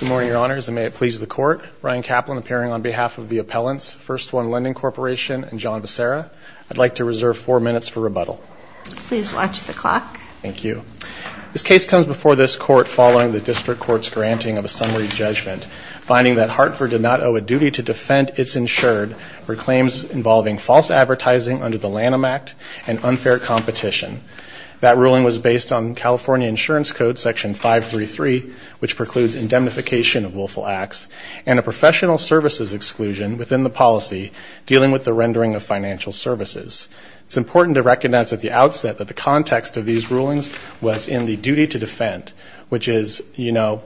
Good morning, Your Honors, and may it please the Court. Ryan Kaplan appearing on behalf of the appellants, First One Lending Corporation and John Becerra. I'd like to reserve four minutes for rebuttal. Please watch the clock. Thank you. This case comes before this Court following the District Court's granting of a summary judgment, finding that Hartford did not owe a duty to defend its insured for claims involving false advertising under the Lanham Act and unfair competition. That ruling was based on California Insurance Code Section 533, which precludes indemnification of willful acts, and a professional services exclusion within the policy dealing with the rendering of financial services. It's important to recognize at the outset that the context of these rulings was in the duty to defend, which is, you know,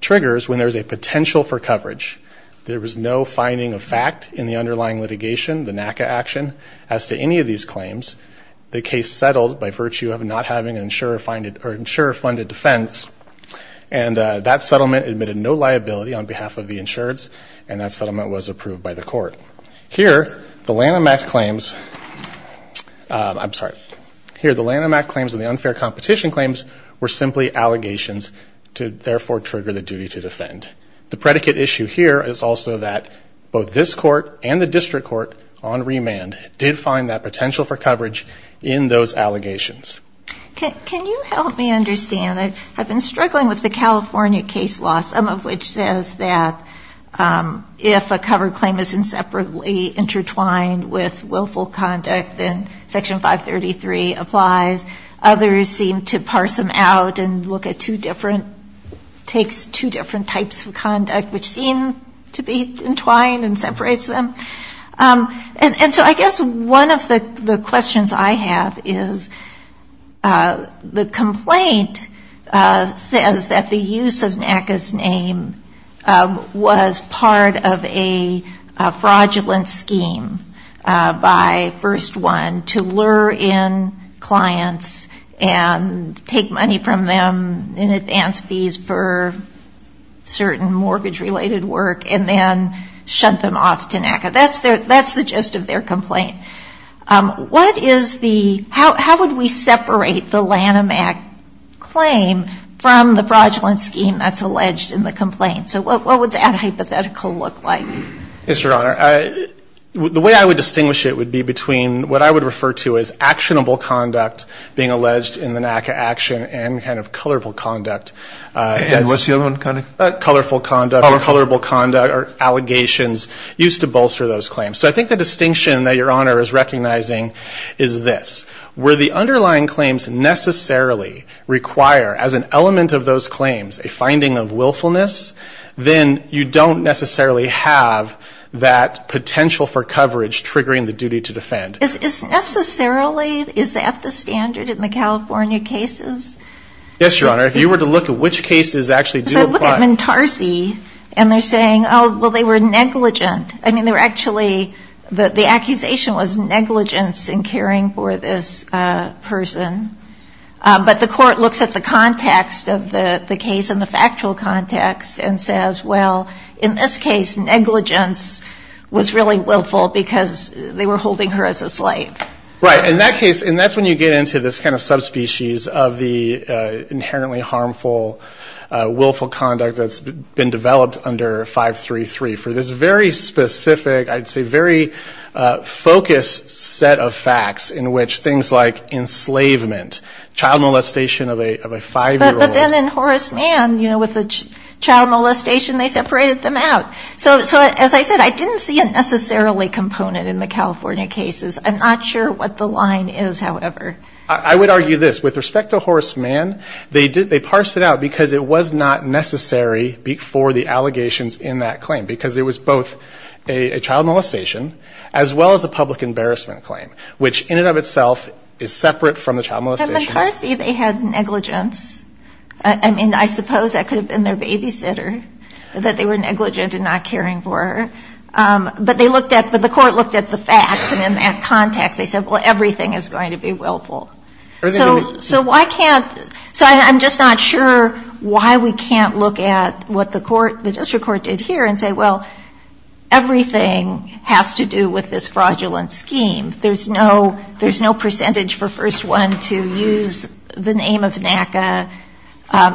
triggers when there's a potential for coverage. There was no finding of fact in the underlying litigation, the NACA action, as to any of these claims. The case settled by virtue of not having an insurer-funded defense, and that settlement admitted no liability on behalf of the insureds, and that settlement was approved by the Court. Here, the Lanham Act claims and the unfair competition claims were simply allegations to therefore trigger the duty to defend. The predicate issue here is also that both this Court and the District Court on remand did find that potential for coverage in those allegations. Can you help me understand? I've been struggling with the California case law, some of which says that if a covered claim is inseparably intertwined with willful conduct, then Section 533 applies. Others seem to parse them out and look at two different, takes two different types of conduct, which seem to be entwined and separates them. And so I guess one of the questions I have is the complaint says that the use of NACA's name was part of a fraudulent scheme by First One to lure in clients and take money from them in advance fees for certain mortgage-related work and then shunt them off to NACA. That's the gist of their complaint. How would we separate the Lanham Act claim from the fraudulent scheme that's alleged in the complaint? So what would that hypothetical look like? Yes, Your Honor. The way I would distinguish it would be between what I would refer to as actionable conduct being alleged in the NACA action and kind of colorful conduct. And what's the other one? Colorful conduct or colorable conduct or allegations used to bolster those claims. So I think the distinction that Your Honor is recognizing is this. Where the underlying claims necessarily require as an element of those claims a finding of willfulness, then you don't necessarily have that potential for coverage triggering the duty to defend. Is necessarily, is that the standard in the California cases? Yes, Your Honor. If you were to look at which cases actually do apply. Because I look at Mntarsi and they're saying, oh, well, they were negligent. I mean, they were actually, the accusation was negligence in caring for this person. But the court looks at the context of the case and the factual context and says, well, in this case, negligence was really willful because they were holding her as a slave. Right. In that case, and that's when you get into this kind of subspecies of the inherently harmful willful conduct that's been developed under 533 for this very specific, I'd say, very focused set of facts in which things like enslavement, child molestation of a five-year-old. But then in Horace Mann, you know, with the child molestation, they separated them out. So as I said, I didn't see a necessarily component in the California cases. I'm not sure what the line is, however. I would argue this. With respect to Horace Mann, they parsed it out because it was not necessary for the allegations in that claim. Because it was both a child molestation as well as a public embarrassment claim, which in and of itself is separate from the child molestation. In Mntarsi, they had negligence. I mean, I suppose that could have been their babysitter, that they were negligent in not caring for her. But they looked at the facts, and in that context, they said, well, everything is going to be willful. So why can't ‑‑ so I'm just not sure why we can't look at what the court, the district court did here and say, well, everything has to do with this fraudulent scheme. There's no percentage for First One to use the name of NACA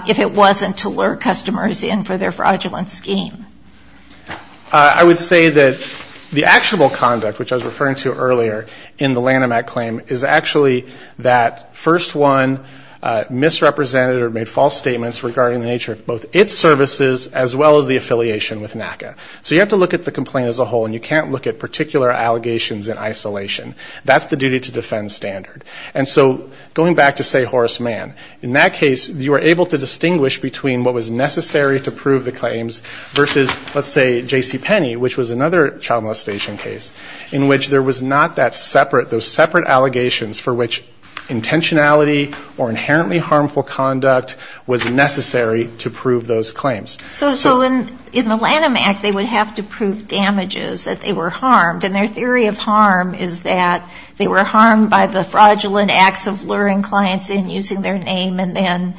if it wasn't to lure customers in for their fraudulent scheme. I would say that the actionable conduct, which I was referring to earlier in the Lanham Act claim, is actually that First One misrepresented or made false statements regarding the nature of both its services as well as the affiliation with NACA. So you have to look at the complaint as a whole, and you can't look at particular allegations in isolation. That's the duty to defend standard. And so going back to, say, Horace Mann, in that case, you were able to distinguish between what was necessary to prove the claims versus, let's say, J.C. Penney, which was another child molestation case, in which there was not that separate, those separate allegations for which intentionality or inherently harmful conduct was necessary to prove those claims. So in the Lanham Act, they would have to prove damages, that they were harmed. And their theory of harm is that they were harmed by the fraudulent acts of luring clients in using their name and then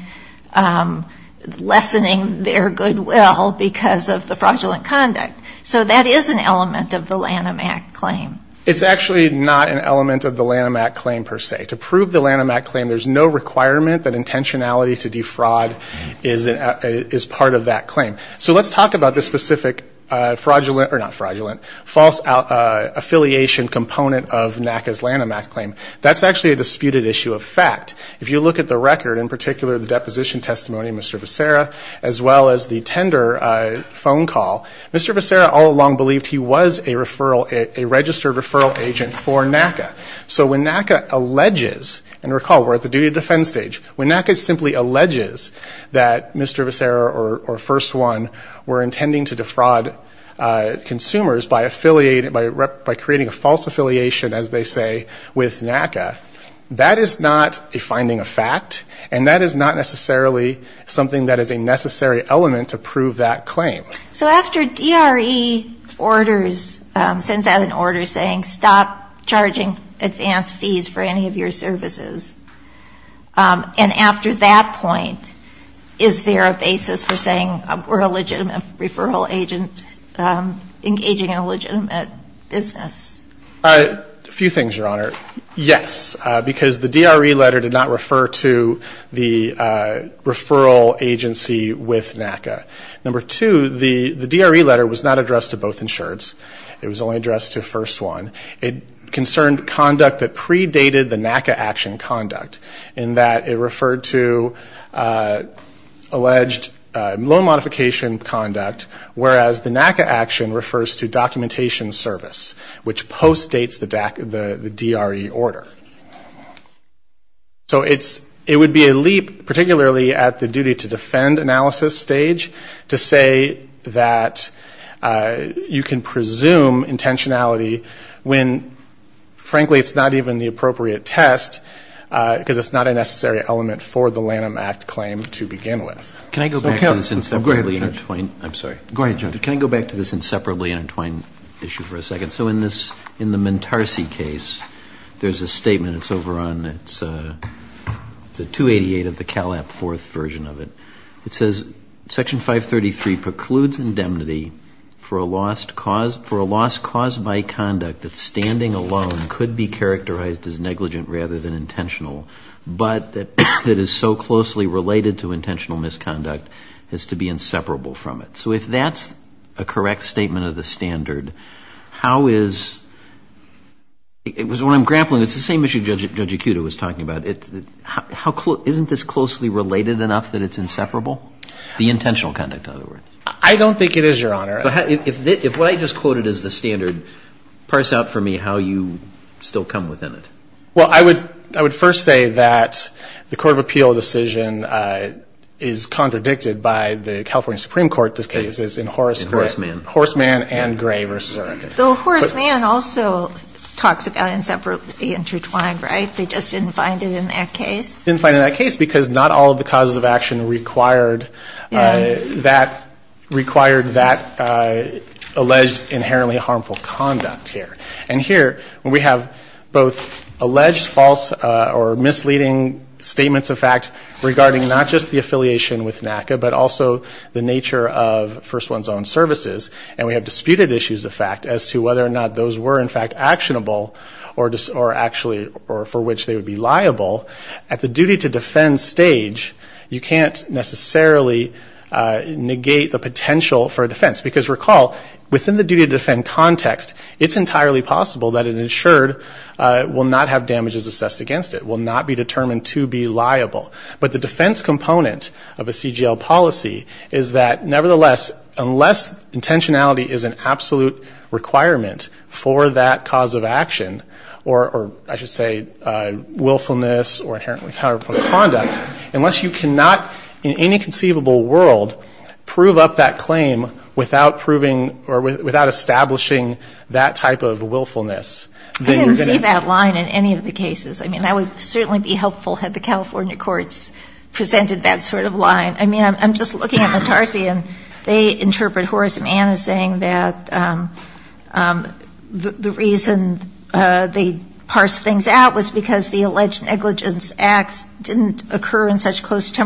lessening their goodwill because of the fraudulent conduct. So that is an element of the Lanham Act claim. It's actually not an element of the Lanham Act claim per se. To prove the Lanham Act claim, there's no requirement that intentionality to defraud is part of that claim. So let's talk about the specific fraudulent, or not fraudulent, false affiliation component of NACA's Lanham Act claim. That's actually a disputed issue of fact. If you look at the record, in particular the deposition testimony of Mr. Becerra, as well as the tender phone call, Mr. Becerra all along believed he was a referral, a registered referral agent for NACA. So when NACA alleges, and recall, we're at the duty to defend stage. When NACA simply alleges that Mr. Becerra or First One were intending to defraud consumers by creating a false affiliation, as they say, with NACA, that is not a finding of fact, and that is not necessarily something that is a necessary element to prove that claim. So after DRE orders, sends out an order saying stop charging advance fees for any of your services, and after that point, is there a basis for saying we're a legitimate referral agent engaging in a legitimate business? A few things, Your Honor. Yes, because the DRE letter did not refer to the referral agency with NACA. Number two, the DRE letter was not addressed to both insureds. It was only addressed to First One. It concerned conduct that predated the NACA action conduct, in that it referred to alleged loan modification conduct, whereas the NACA action refers to documentation service, which postdates the DRE order. So it would be a leap, particularly at the duty to defend analysis stage, to say that you can presume intentionality when, frankly, it's not even the appropriate test, because it's not a necessary element for the Lanham Act claim to begin with. Can I go back to this inseparably intertwined issue for a second? So in this, in the Mentarsi case, there's a statement that's over on, it's a 288 of the CALAP IV version of it. It says, Section 533 precludes indemnity for a lost cause by conduct of a loan modification conduct that standing alone could be characterized as negligent rather than intentional, but that is so closely related to intentional misconduct as to be inseparable from it. So if that's a correct statement of the standard, how is, when I'm grappling, it's the same issue Judge Acuda was talking about. Isn't this closely related enough that it's inseparable, the intentional conduct, in other words? I don't think it is, Your Honor. If what I just quoted is the standard, parse out for me how you still come within it. Well, I would first say that the Court of Appeal decision is contradicted by the California Supreme Court cases in Horace Mann and Gray v. Eric. Though Horace Mann also talks about inseparably intertwined, right? They just didn't find it in that case? They just didn't find it in that case because not all of the causes of action required that alleged inherently harmful conduct here. And here we have both alleged false or misleading statements of fact regarding not just the affiliation with NACA, but also the nature of First One's Own Services, and we have disputed issues of fact as to whether or not those were in fact actionable or actually for which they would be liable. At the duty to defend stage, you can't necessarily negate the potential for a defense. Because recall, within the duty to defend context, it's entirely possible that an insured will not have damages assessed against it, will not be determined to be liable. But the defense component of a CGL policy is that nevertheless, unless intentionality is an absolute requirement for that cause of action, or I should say willfulness or inherently harmful conduct, unless you cannot in any conceivable world prove up that claim without proving or without establishing that type of willfulness, then you're going to be in trouble. So I don't see that line in any of the cases. I mean, that would certainly be helpful had the California courts presented that sort of line. I mean, I'm just looking at the Tarsian. They interpret Horace Mann as saying that the reason they parsed things out was because the alleged negligence acts on the basis of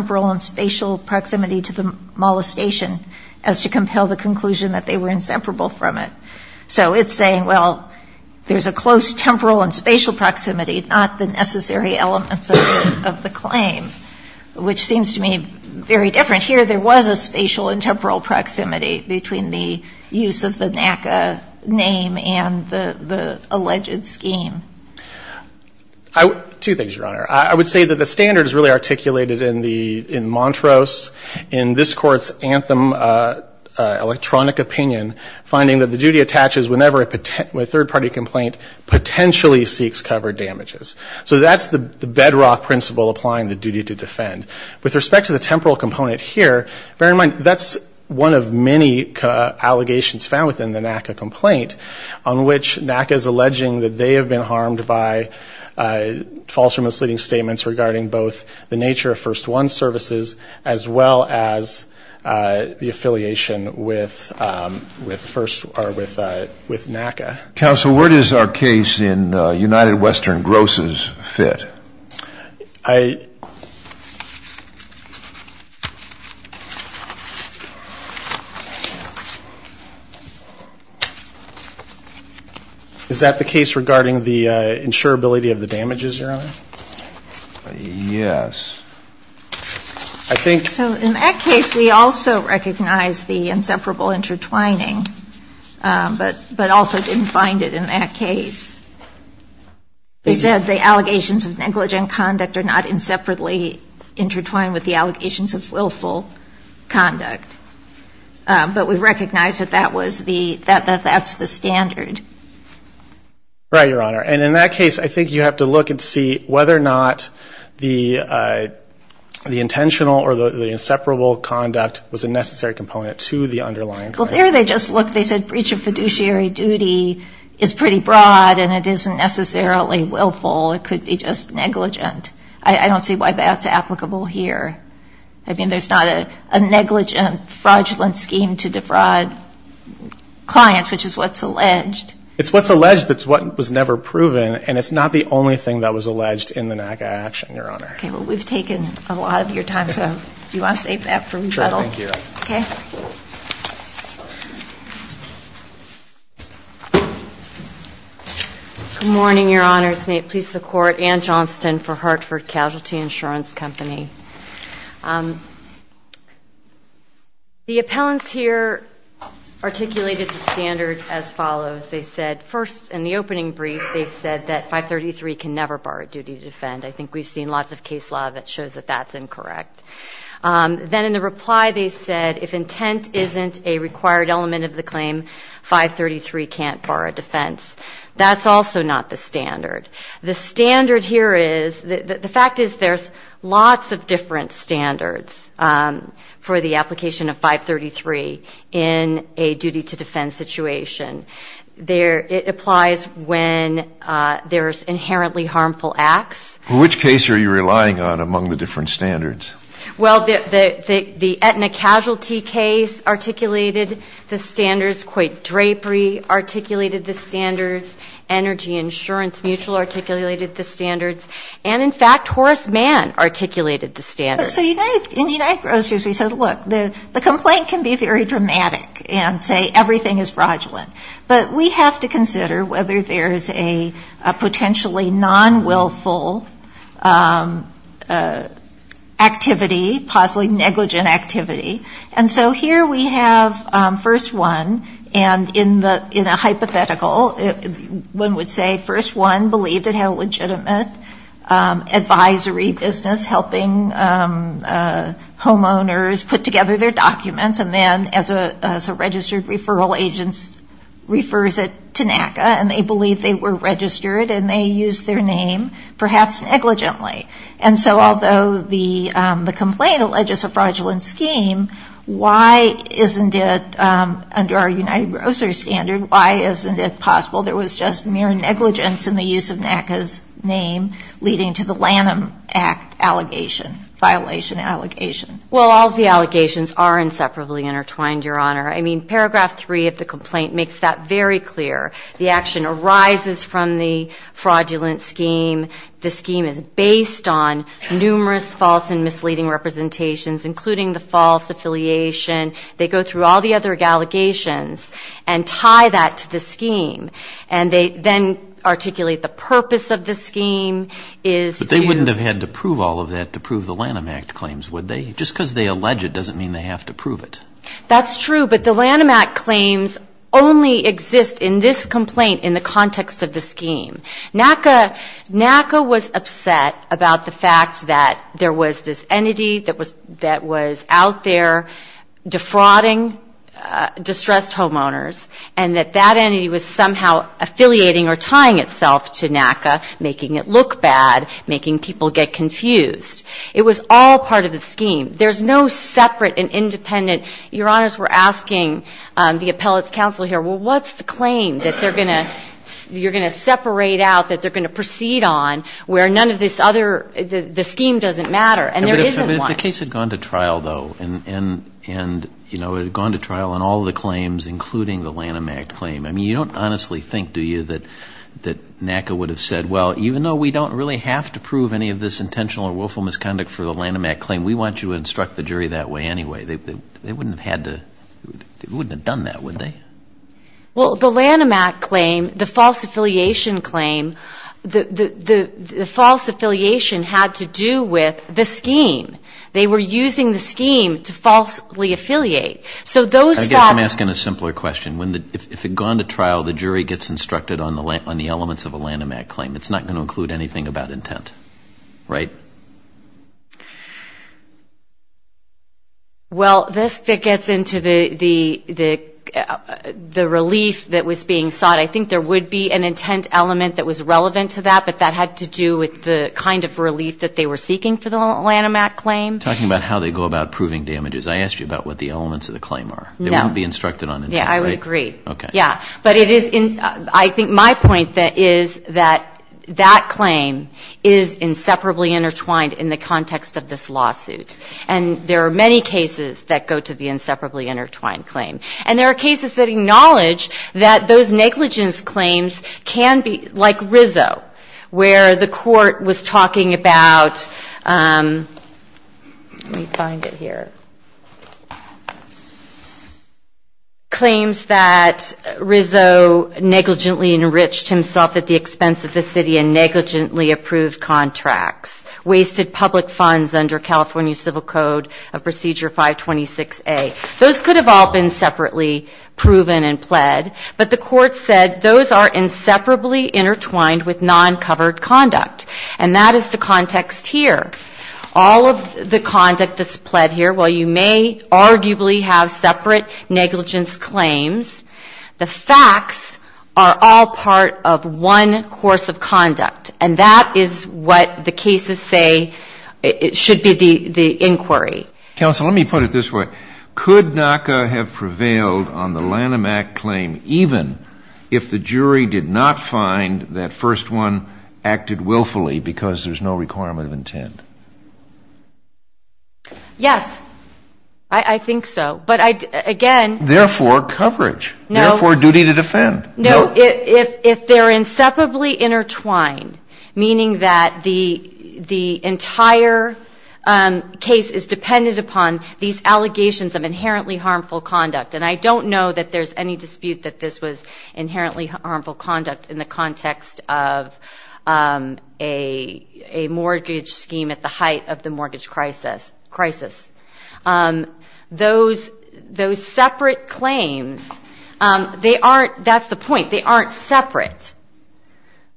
spatial proximity, not the necessary elements of the claim, which seems to me very different. Here there was a spatial and temporal proximity between the use of the NACA name and the alleged scheme. Two things, Your Honor. I would say that the standard is really articulated in Montrose in this Court's Anthem electronic opinion, finding that the duty to defend is to protect and to protect, not to defend. So that's the bedrock principle applying the duty to defend. With respect to the temporal component here, bear in mind that's one of many allegations found within the NACA complaint, on which NACA is alleging that they have been harmed by false or misleading statements regarding both the nature of First One and the nature of Second One. And so I think that's one of the things that we need to look at. Next slide, please. They said the allegations of negligent conduct are not inseparably intertwined with the allegations of willful conduct. But we recognize that that's the standard. Right, Your Honor. And in that case, I think you have to look and see whether or not the intentional or the inseparable conduct was a necessary component to the underlying claim. Well, there they just looked. They said breach of fiduciary duty is pretty broad and it isn't necessarily willful. It could be just negligent. I don't see why that's applicable here. I mean, there's not a negligent fraudulent scheme to defraud clients, which is what's alleged. It's what's alleged, but it's what was never proven, and it's not the only thing that was alleged in the NACA action, Your Honor. Okay. Well, we've taken a lot of your time, so do you want to save that for rebuttal? Sure, thank you. Okay. Good morning, Your Honors. May it please the Court, Ann Johnston for Hartford Casualty Insurance Company. The appellants here articulated the standard as follows. They said first in the opening brief, they said that 533 can never bar a duty to defend. I think we've seen lots of case law that shows that that's incorrect. Then in the reply, they said if intent isn't a required element of the claim, 533 can't bar a defense. That's also not the standard. The standard here is the fact is there's lots of different standards for the application of 533 in a duty to defend situation. It applies when there's inherently harmful acts. In which case are you relying on among the different standards? Well, the Aetna casualty case articulated the standards. Coit Drapery articulated the standards. Energy Insurance Mutual articulated the standards. And in fact, Horace Mann articulated the standards. So in United Grocers, we said, look, the complaint can be very dramatic and say everything is fraudulent. But we have to consider whether there's a potentially non-willful activity, possibly negligent activity. And so here we have first one. And in a hypothetical, one would say first one believed it had a legitimate advisory business helping homeowners put together their documents. And then as a registered referral agent refers it to NACA. And they believe they were registered and they used their name, perhaps negligently. And so although the complaint alleges a fraudulent scheme, why isn't it under our jurisdiction? Under United Grocers standard, why isn't it possible there was just mere negligence in the use of NACA's name leading to the Lanham Act allegation, violation allegation? Well, all of the allegations are inseparably intertwined, Your Honor. I mean, Paragraph 3 of the complaint makes that very clear. The action arises from the fraudulent scheme. The scheme is based on numerous false and misleading representations, including the false affiliation. They go through all the other allegations and tie that to the scheme. And they then articulate the purpose of the scheme is to... But they wouldn't have had to prove all of that to prove the Lanham Act claims, would they? Just because they allege it doesn't mean they have to prove it. That's true, but the Lanham Act claims only exist in this complaint in the context of the scheme. NACA was upset about the fact that there was this entity that was out there defrauding distressed homeowners, and that that entity was somehow affiliating or tying itself to NACA, making it look bad, making people get confused. It was all part of the scheme. There's no separate and independent. Your Honors, we're asking the appellate's counsel here, well, what's the claim that they're going to, you're going to separate out, that they're going to proceed on, where none of this other, the scheme doesn't matter, and there isn't one. But if the case had gone to trial, though, and, you know, it had gone to trial on all of the claims, including the Lanham Act claim, I mean, you don't honestly think, do you, that NACA would have said, well, even though we don't really have to prove any of this intentional or willful misconduct for the Lanham Act claim, we want you to instruct the jury that way anyway. They wouldn't have had to, they wouldn't have done that, would they? Well, the Lanham Act claim, the false affiliation claim, the false affiliation had to do with the scheme. They were using the scheme to falsely affiliate. I guess I'm asking a simpler question. If it had gone to trial, the jury gets instructed on the elements of a Lanham Act claim. It's not going to include anything about intent, right? Well, this gets into the relief that was being sought. I think there would be an intent element that was relevant to that, but that had to do with the kind of relief that they were seeking for the elements of the claim are. They wouldn't be instructed on intent, right? Yeah, I would agree. But I think my point is that that claim is inseparably intertwined in the context of this lawsuit. And there are many cases that go to the inseparably intertwined claim. And there are cases that acknowledge that those negligence claims can be, like Rizzo, where the court was talking about, let me find it here, claims that Rizzo negligently enriched himself at the expense of the city in negligently approved contracts, wasted public funds under California Civil Code of Procedure 526A. Those could have all been separately proven and pled, but the court said those are inseparably intertwined with non-covered conduct. And that is the context here. All of the conduct that's pled here, while you may arguably have separate negligence claims, the facts are all part of one course of conduct. And that is what the cases say should be the inquiry. Counsel, let me put it this way. Could NACA have prevailed on the Lanham Act claim even if the jury did not find that first one acted willfully because there's no requirement of intent? Yes. I think so. Therefore, coverage. Therefore, duty to defend. No, if they're inseparably intertwined, meaning that the entire case is dependent upon these allegations of inherently harmful conduct, and I don't know that there's any dispute that this was inherently harmful conduct in the context of a mortgage scheme at the height of the mortgage crisis. Those separate claims, they aren't, that's the point, they aren't separate.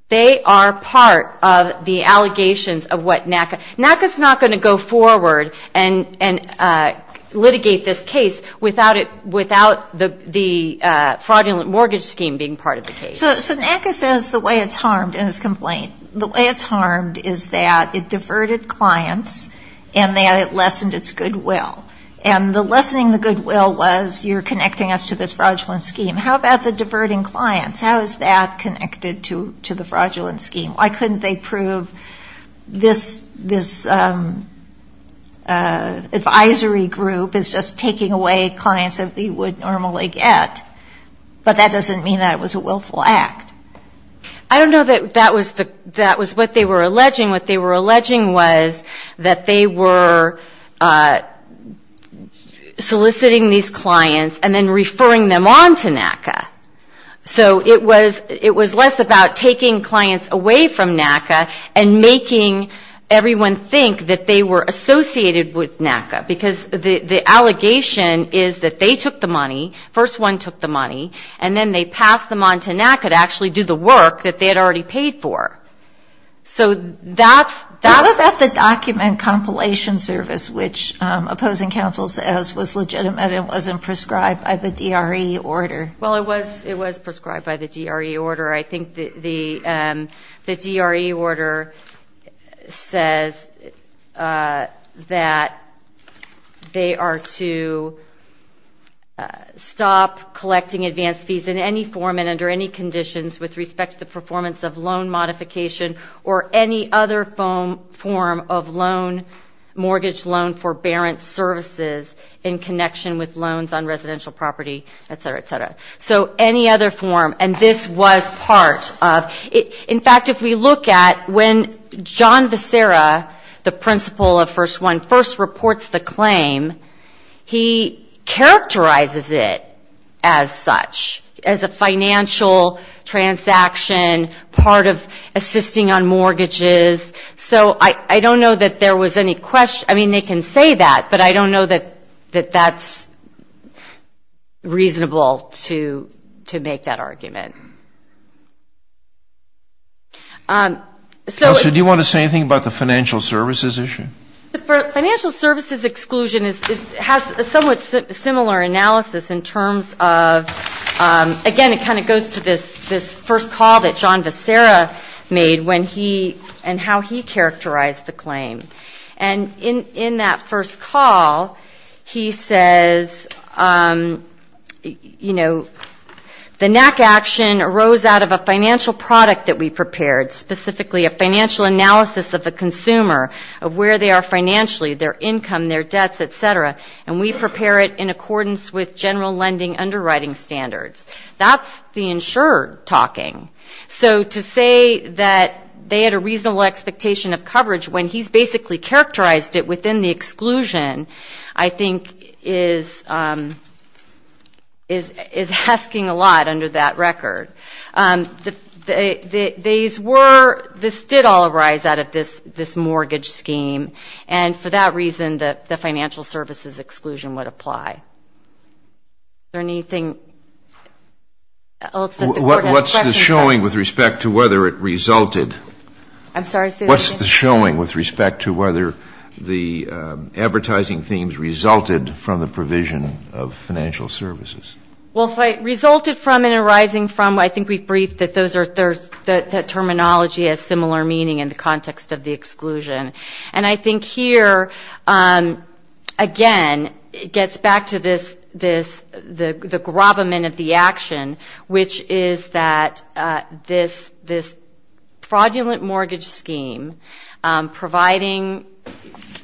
They are part of the allegations of what NACA, NACA's not going to go forward and litigate this case without the fraudulent mortgage scheme being part of the case. So NACA says the way it's harmed in its complaint, the way it's harmed is that it diverted clients and that it lessened its goodwill. And the lessening of the goodwill was you're connecting us to this fraudulent scheme. How about the diverting clients? How is that connected to the fraudulent scheme? Why couldn't they prove this advisory group is just taking away clients that they would normally get? But that doesn't mean that it was a willful act. I don't know that that was what they were alleging. What they were alleging was that they were soliciting these clients and then referring them on to NACA. So it was less about taking clients away from NACA and making everyone think that they were associated with NACA, because the allegation is that they took the money, first one took the money, and then they passed them on to NACA to actually do the work that they had already paid for. How about the document compilation service, which opposing counsel says was legitimate and wasn't prescribed by the DRE order? Well, it was prescribed by the DRE order. I think the DRE order says that they are to submit a complaint to NACA, and that's what they're doing. They are to stop collecting advance fees in any form and under any conditions with respect to the performance of loan modification or any other form of loan, mortgage loan forbearance services in connection with loans on residential property, et cetera, et cetera. So any other form, and this was part of it. In fact, if we look at when John Visera, the principal of First One, first reports the claim, he characterizes it. As such, as a financial transaction, part of assisting on mortgages. So I don't know that there was any question, I mean, they can say that, but I don't know that that's reasonable to make that argument. Kelsey, do you want to say anything about the financial services issue? The financial services exclusion has a somewhat similar analysis in terms of, again, it kind of goes to this first call that John Visera made when he and how he characterized the claim. And in that first call, he says, you know, the NACA action arose out of a financial product that we prepared, specifically a financial analysis of the their income, their debts, et cetera, and we prepare it in accordance with general lending underwriting standards. That's the insured talking. So to say that they had a reasonable expectation of coverage when he's basically characterized it within the exclusion, I think is asking a lot under that record. These were, this did all arise out of this mortgage scheme. And for that reason, the financial services exclusion would apply. Is there anything else that the court has a question about? What's the showing with respect to whether it resulted? I'm sorry, say that again. What's the showing with respect to whether the advertising themes resulted from the provision of financial services? Well, if it resulted from and arising from, I think we've briefed that those are, that terminology has similar meaning in the context of the exclusion. And I think here, again, it gets back to this, the gravamen of the action, which is that this fraudulent mortgage scheme, providing,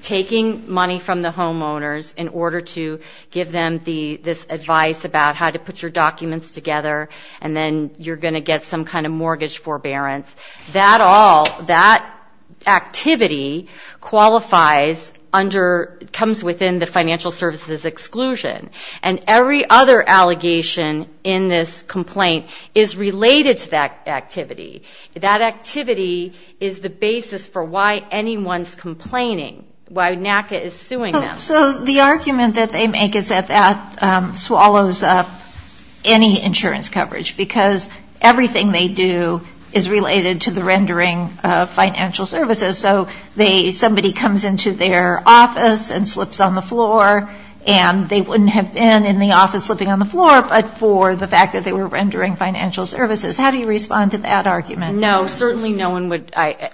taking money from the homeowners in order to give them this advice about how to put your documents together, and then you're going to get some kind of mortgage forbearance, that all, that activity qualifies under, comes within the financial services exclusion. And every other allegation in this complaint is related to that activity. That activity is the basis for why anyone's complaining, why NACA is suing them. So the argument that they make is that that swallows up any insurance coverage, because everything they do is related to the rendering of financial services. So they, somebody comes into their office and slips on the floor, and they wouldn't have been in the office slipping on the floor, but for the fact that they were rendering financial services. How do you respond to that argument? No, certainly no one would, I,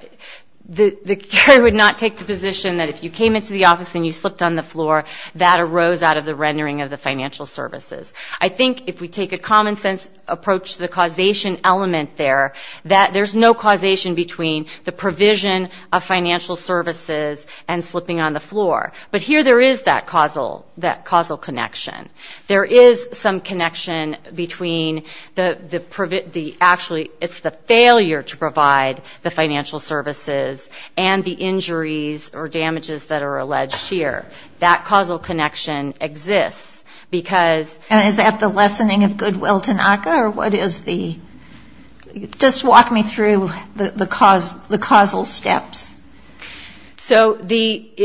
the jury would not take the position that if you came into the office and you slipped on the floor, that arose out of the rendering of the financial services. I think if we take a common sense approach to the causation element there, that there's no causation between the provision of financial services and slipping on the floor. But here there is that causal, that causal connection. There is some connection between the, actually it's the failure to provide the financial services and the injuries or damages that are alleged here. That causal connection exists, because And is that the lessening of goodwill to NACA, or what is the, just walk me through the causal steps. So the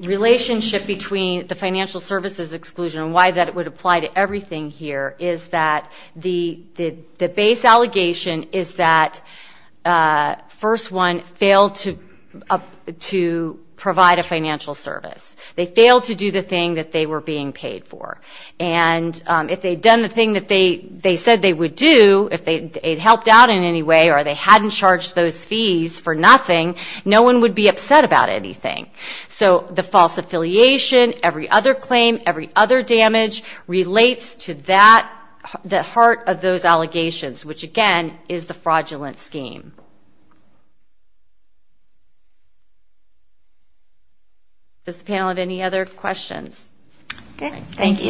relationship between the financial services exclusion and why that would apply to everything here is that the base allegation is that first one, failed to provide a financial service. They failed to do the thing that they were being paid for. And if they'd done the thing that they said they would do, if it helped out in any way or they hadn't charged those fees for nothing, no one would be upset about anything. So the false affiliation, every other claim, every other damage, relates to that, the heart of those allegations, which again is the fraudulent scheme. Does the panel have any other questions? Thank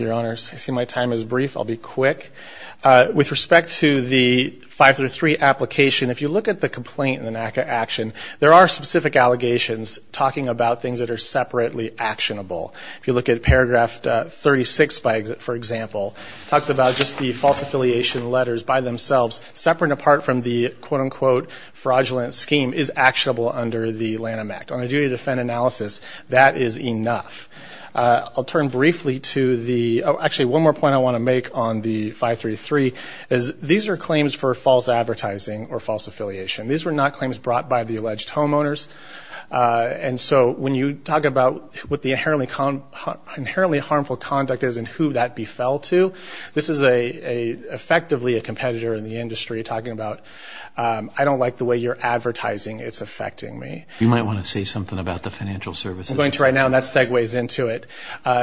you, Your Honors. I see my time is brief. I'll be quick. With respect to the five through three application, if you look at the complaint in the NACA action, there are specific allegations talking about things that are separately actionable. If you look at paragraph 36, for example, talks about just the false affiliation letters by themselves, separate and apart from the quote-unquote fraudulent scheme is actionable under the Lanham Act. On a duty to defend analysis, that is enough. I'll turn briefly to the, actually one more point I want to make on the five through three is these are claims for false advertising or false affiliation. These were not claims brought by the alleged homeowners. And so when you talk about what the inherently harmful conduct is and who that befell to, this is effectively a competitor in the case. I don't like the way you're advertising. It's affecting me. You might want to say something about the financial services. I'm going to right now, and that segues into it.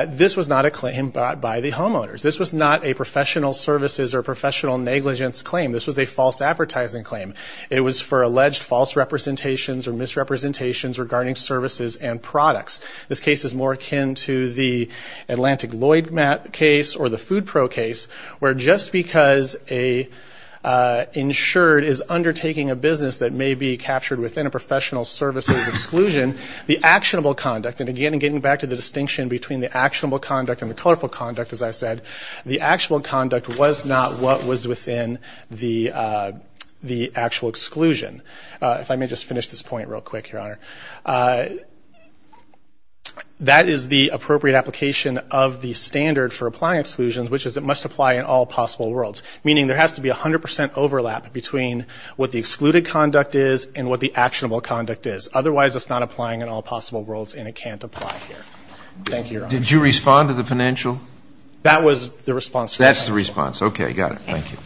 This was not a claim brought by the homeowners. This was not a professional services or professional negligence claim. This was a false advertising claim. It was for alleged false representations or misrepresentations regarding services and products. This case is more akin to the Atlantic Lloyd case or the Food Pro case, where just because a insured is undertaking a business that may be captured within a professional services exclusion, the actionable conduct, and again, getting back to the distinction between the actionable conduct and the colorful conduct, as I said, the actual conduct was not what was within the actual exclusion. If I may just finish this point real quick, Your Honor, that is the appropriate application of the standard for applying exclusions, which is it must apply in all possible worlds. Meaning there has to be 100 percent overlap between what the excluded conduct is and what the actionable conduct is. Otherwise, it's not applying in all possible worlds, and it can't apply here. Thank you, Your Honor. Did you respond to the financial? That was the response. That's the response. Okay. Got it. Thank you.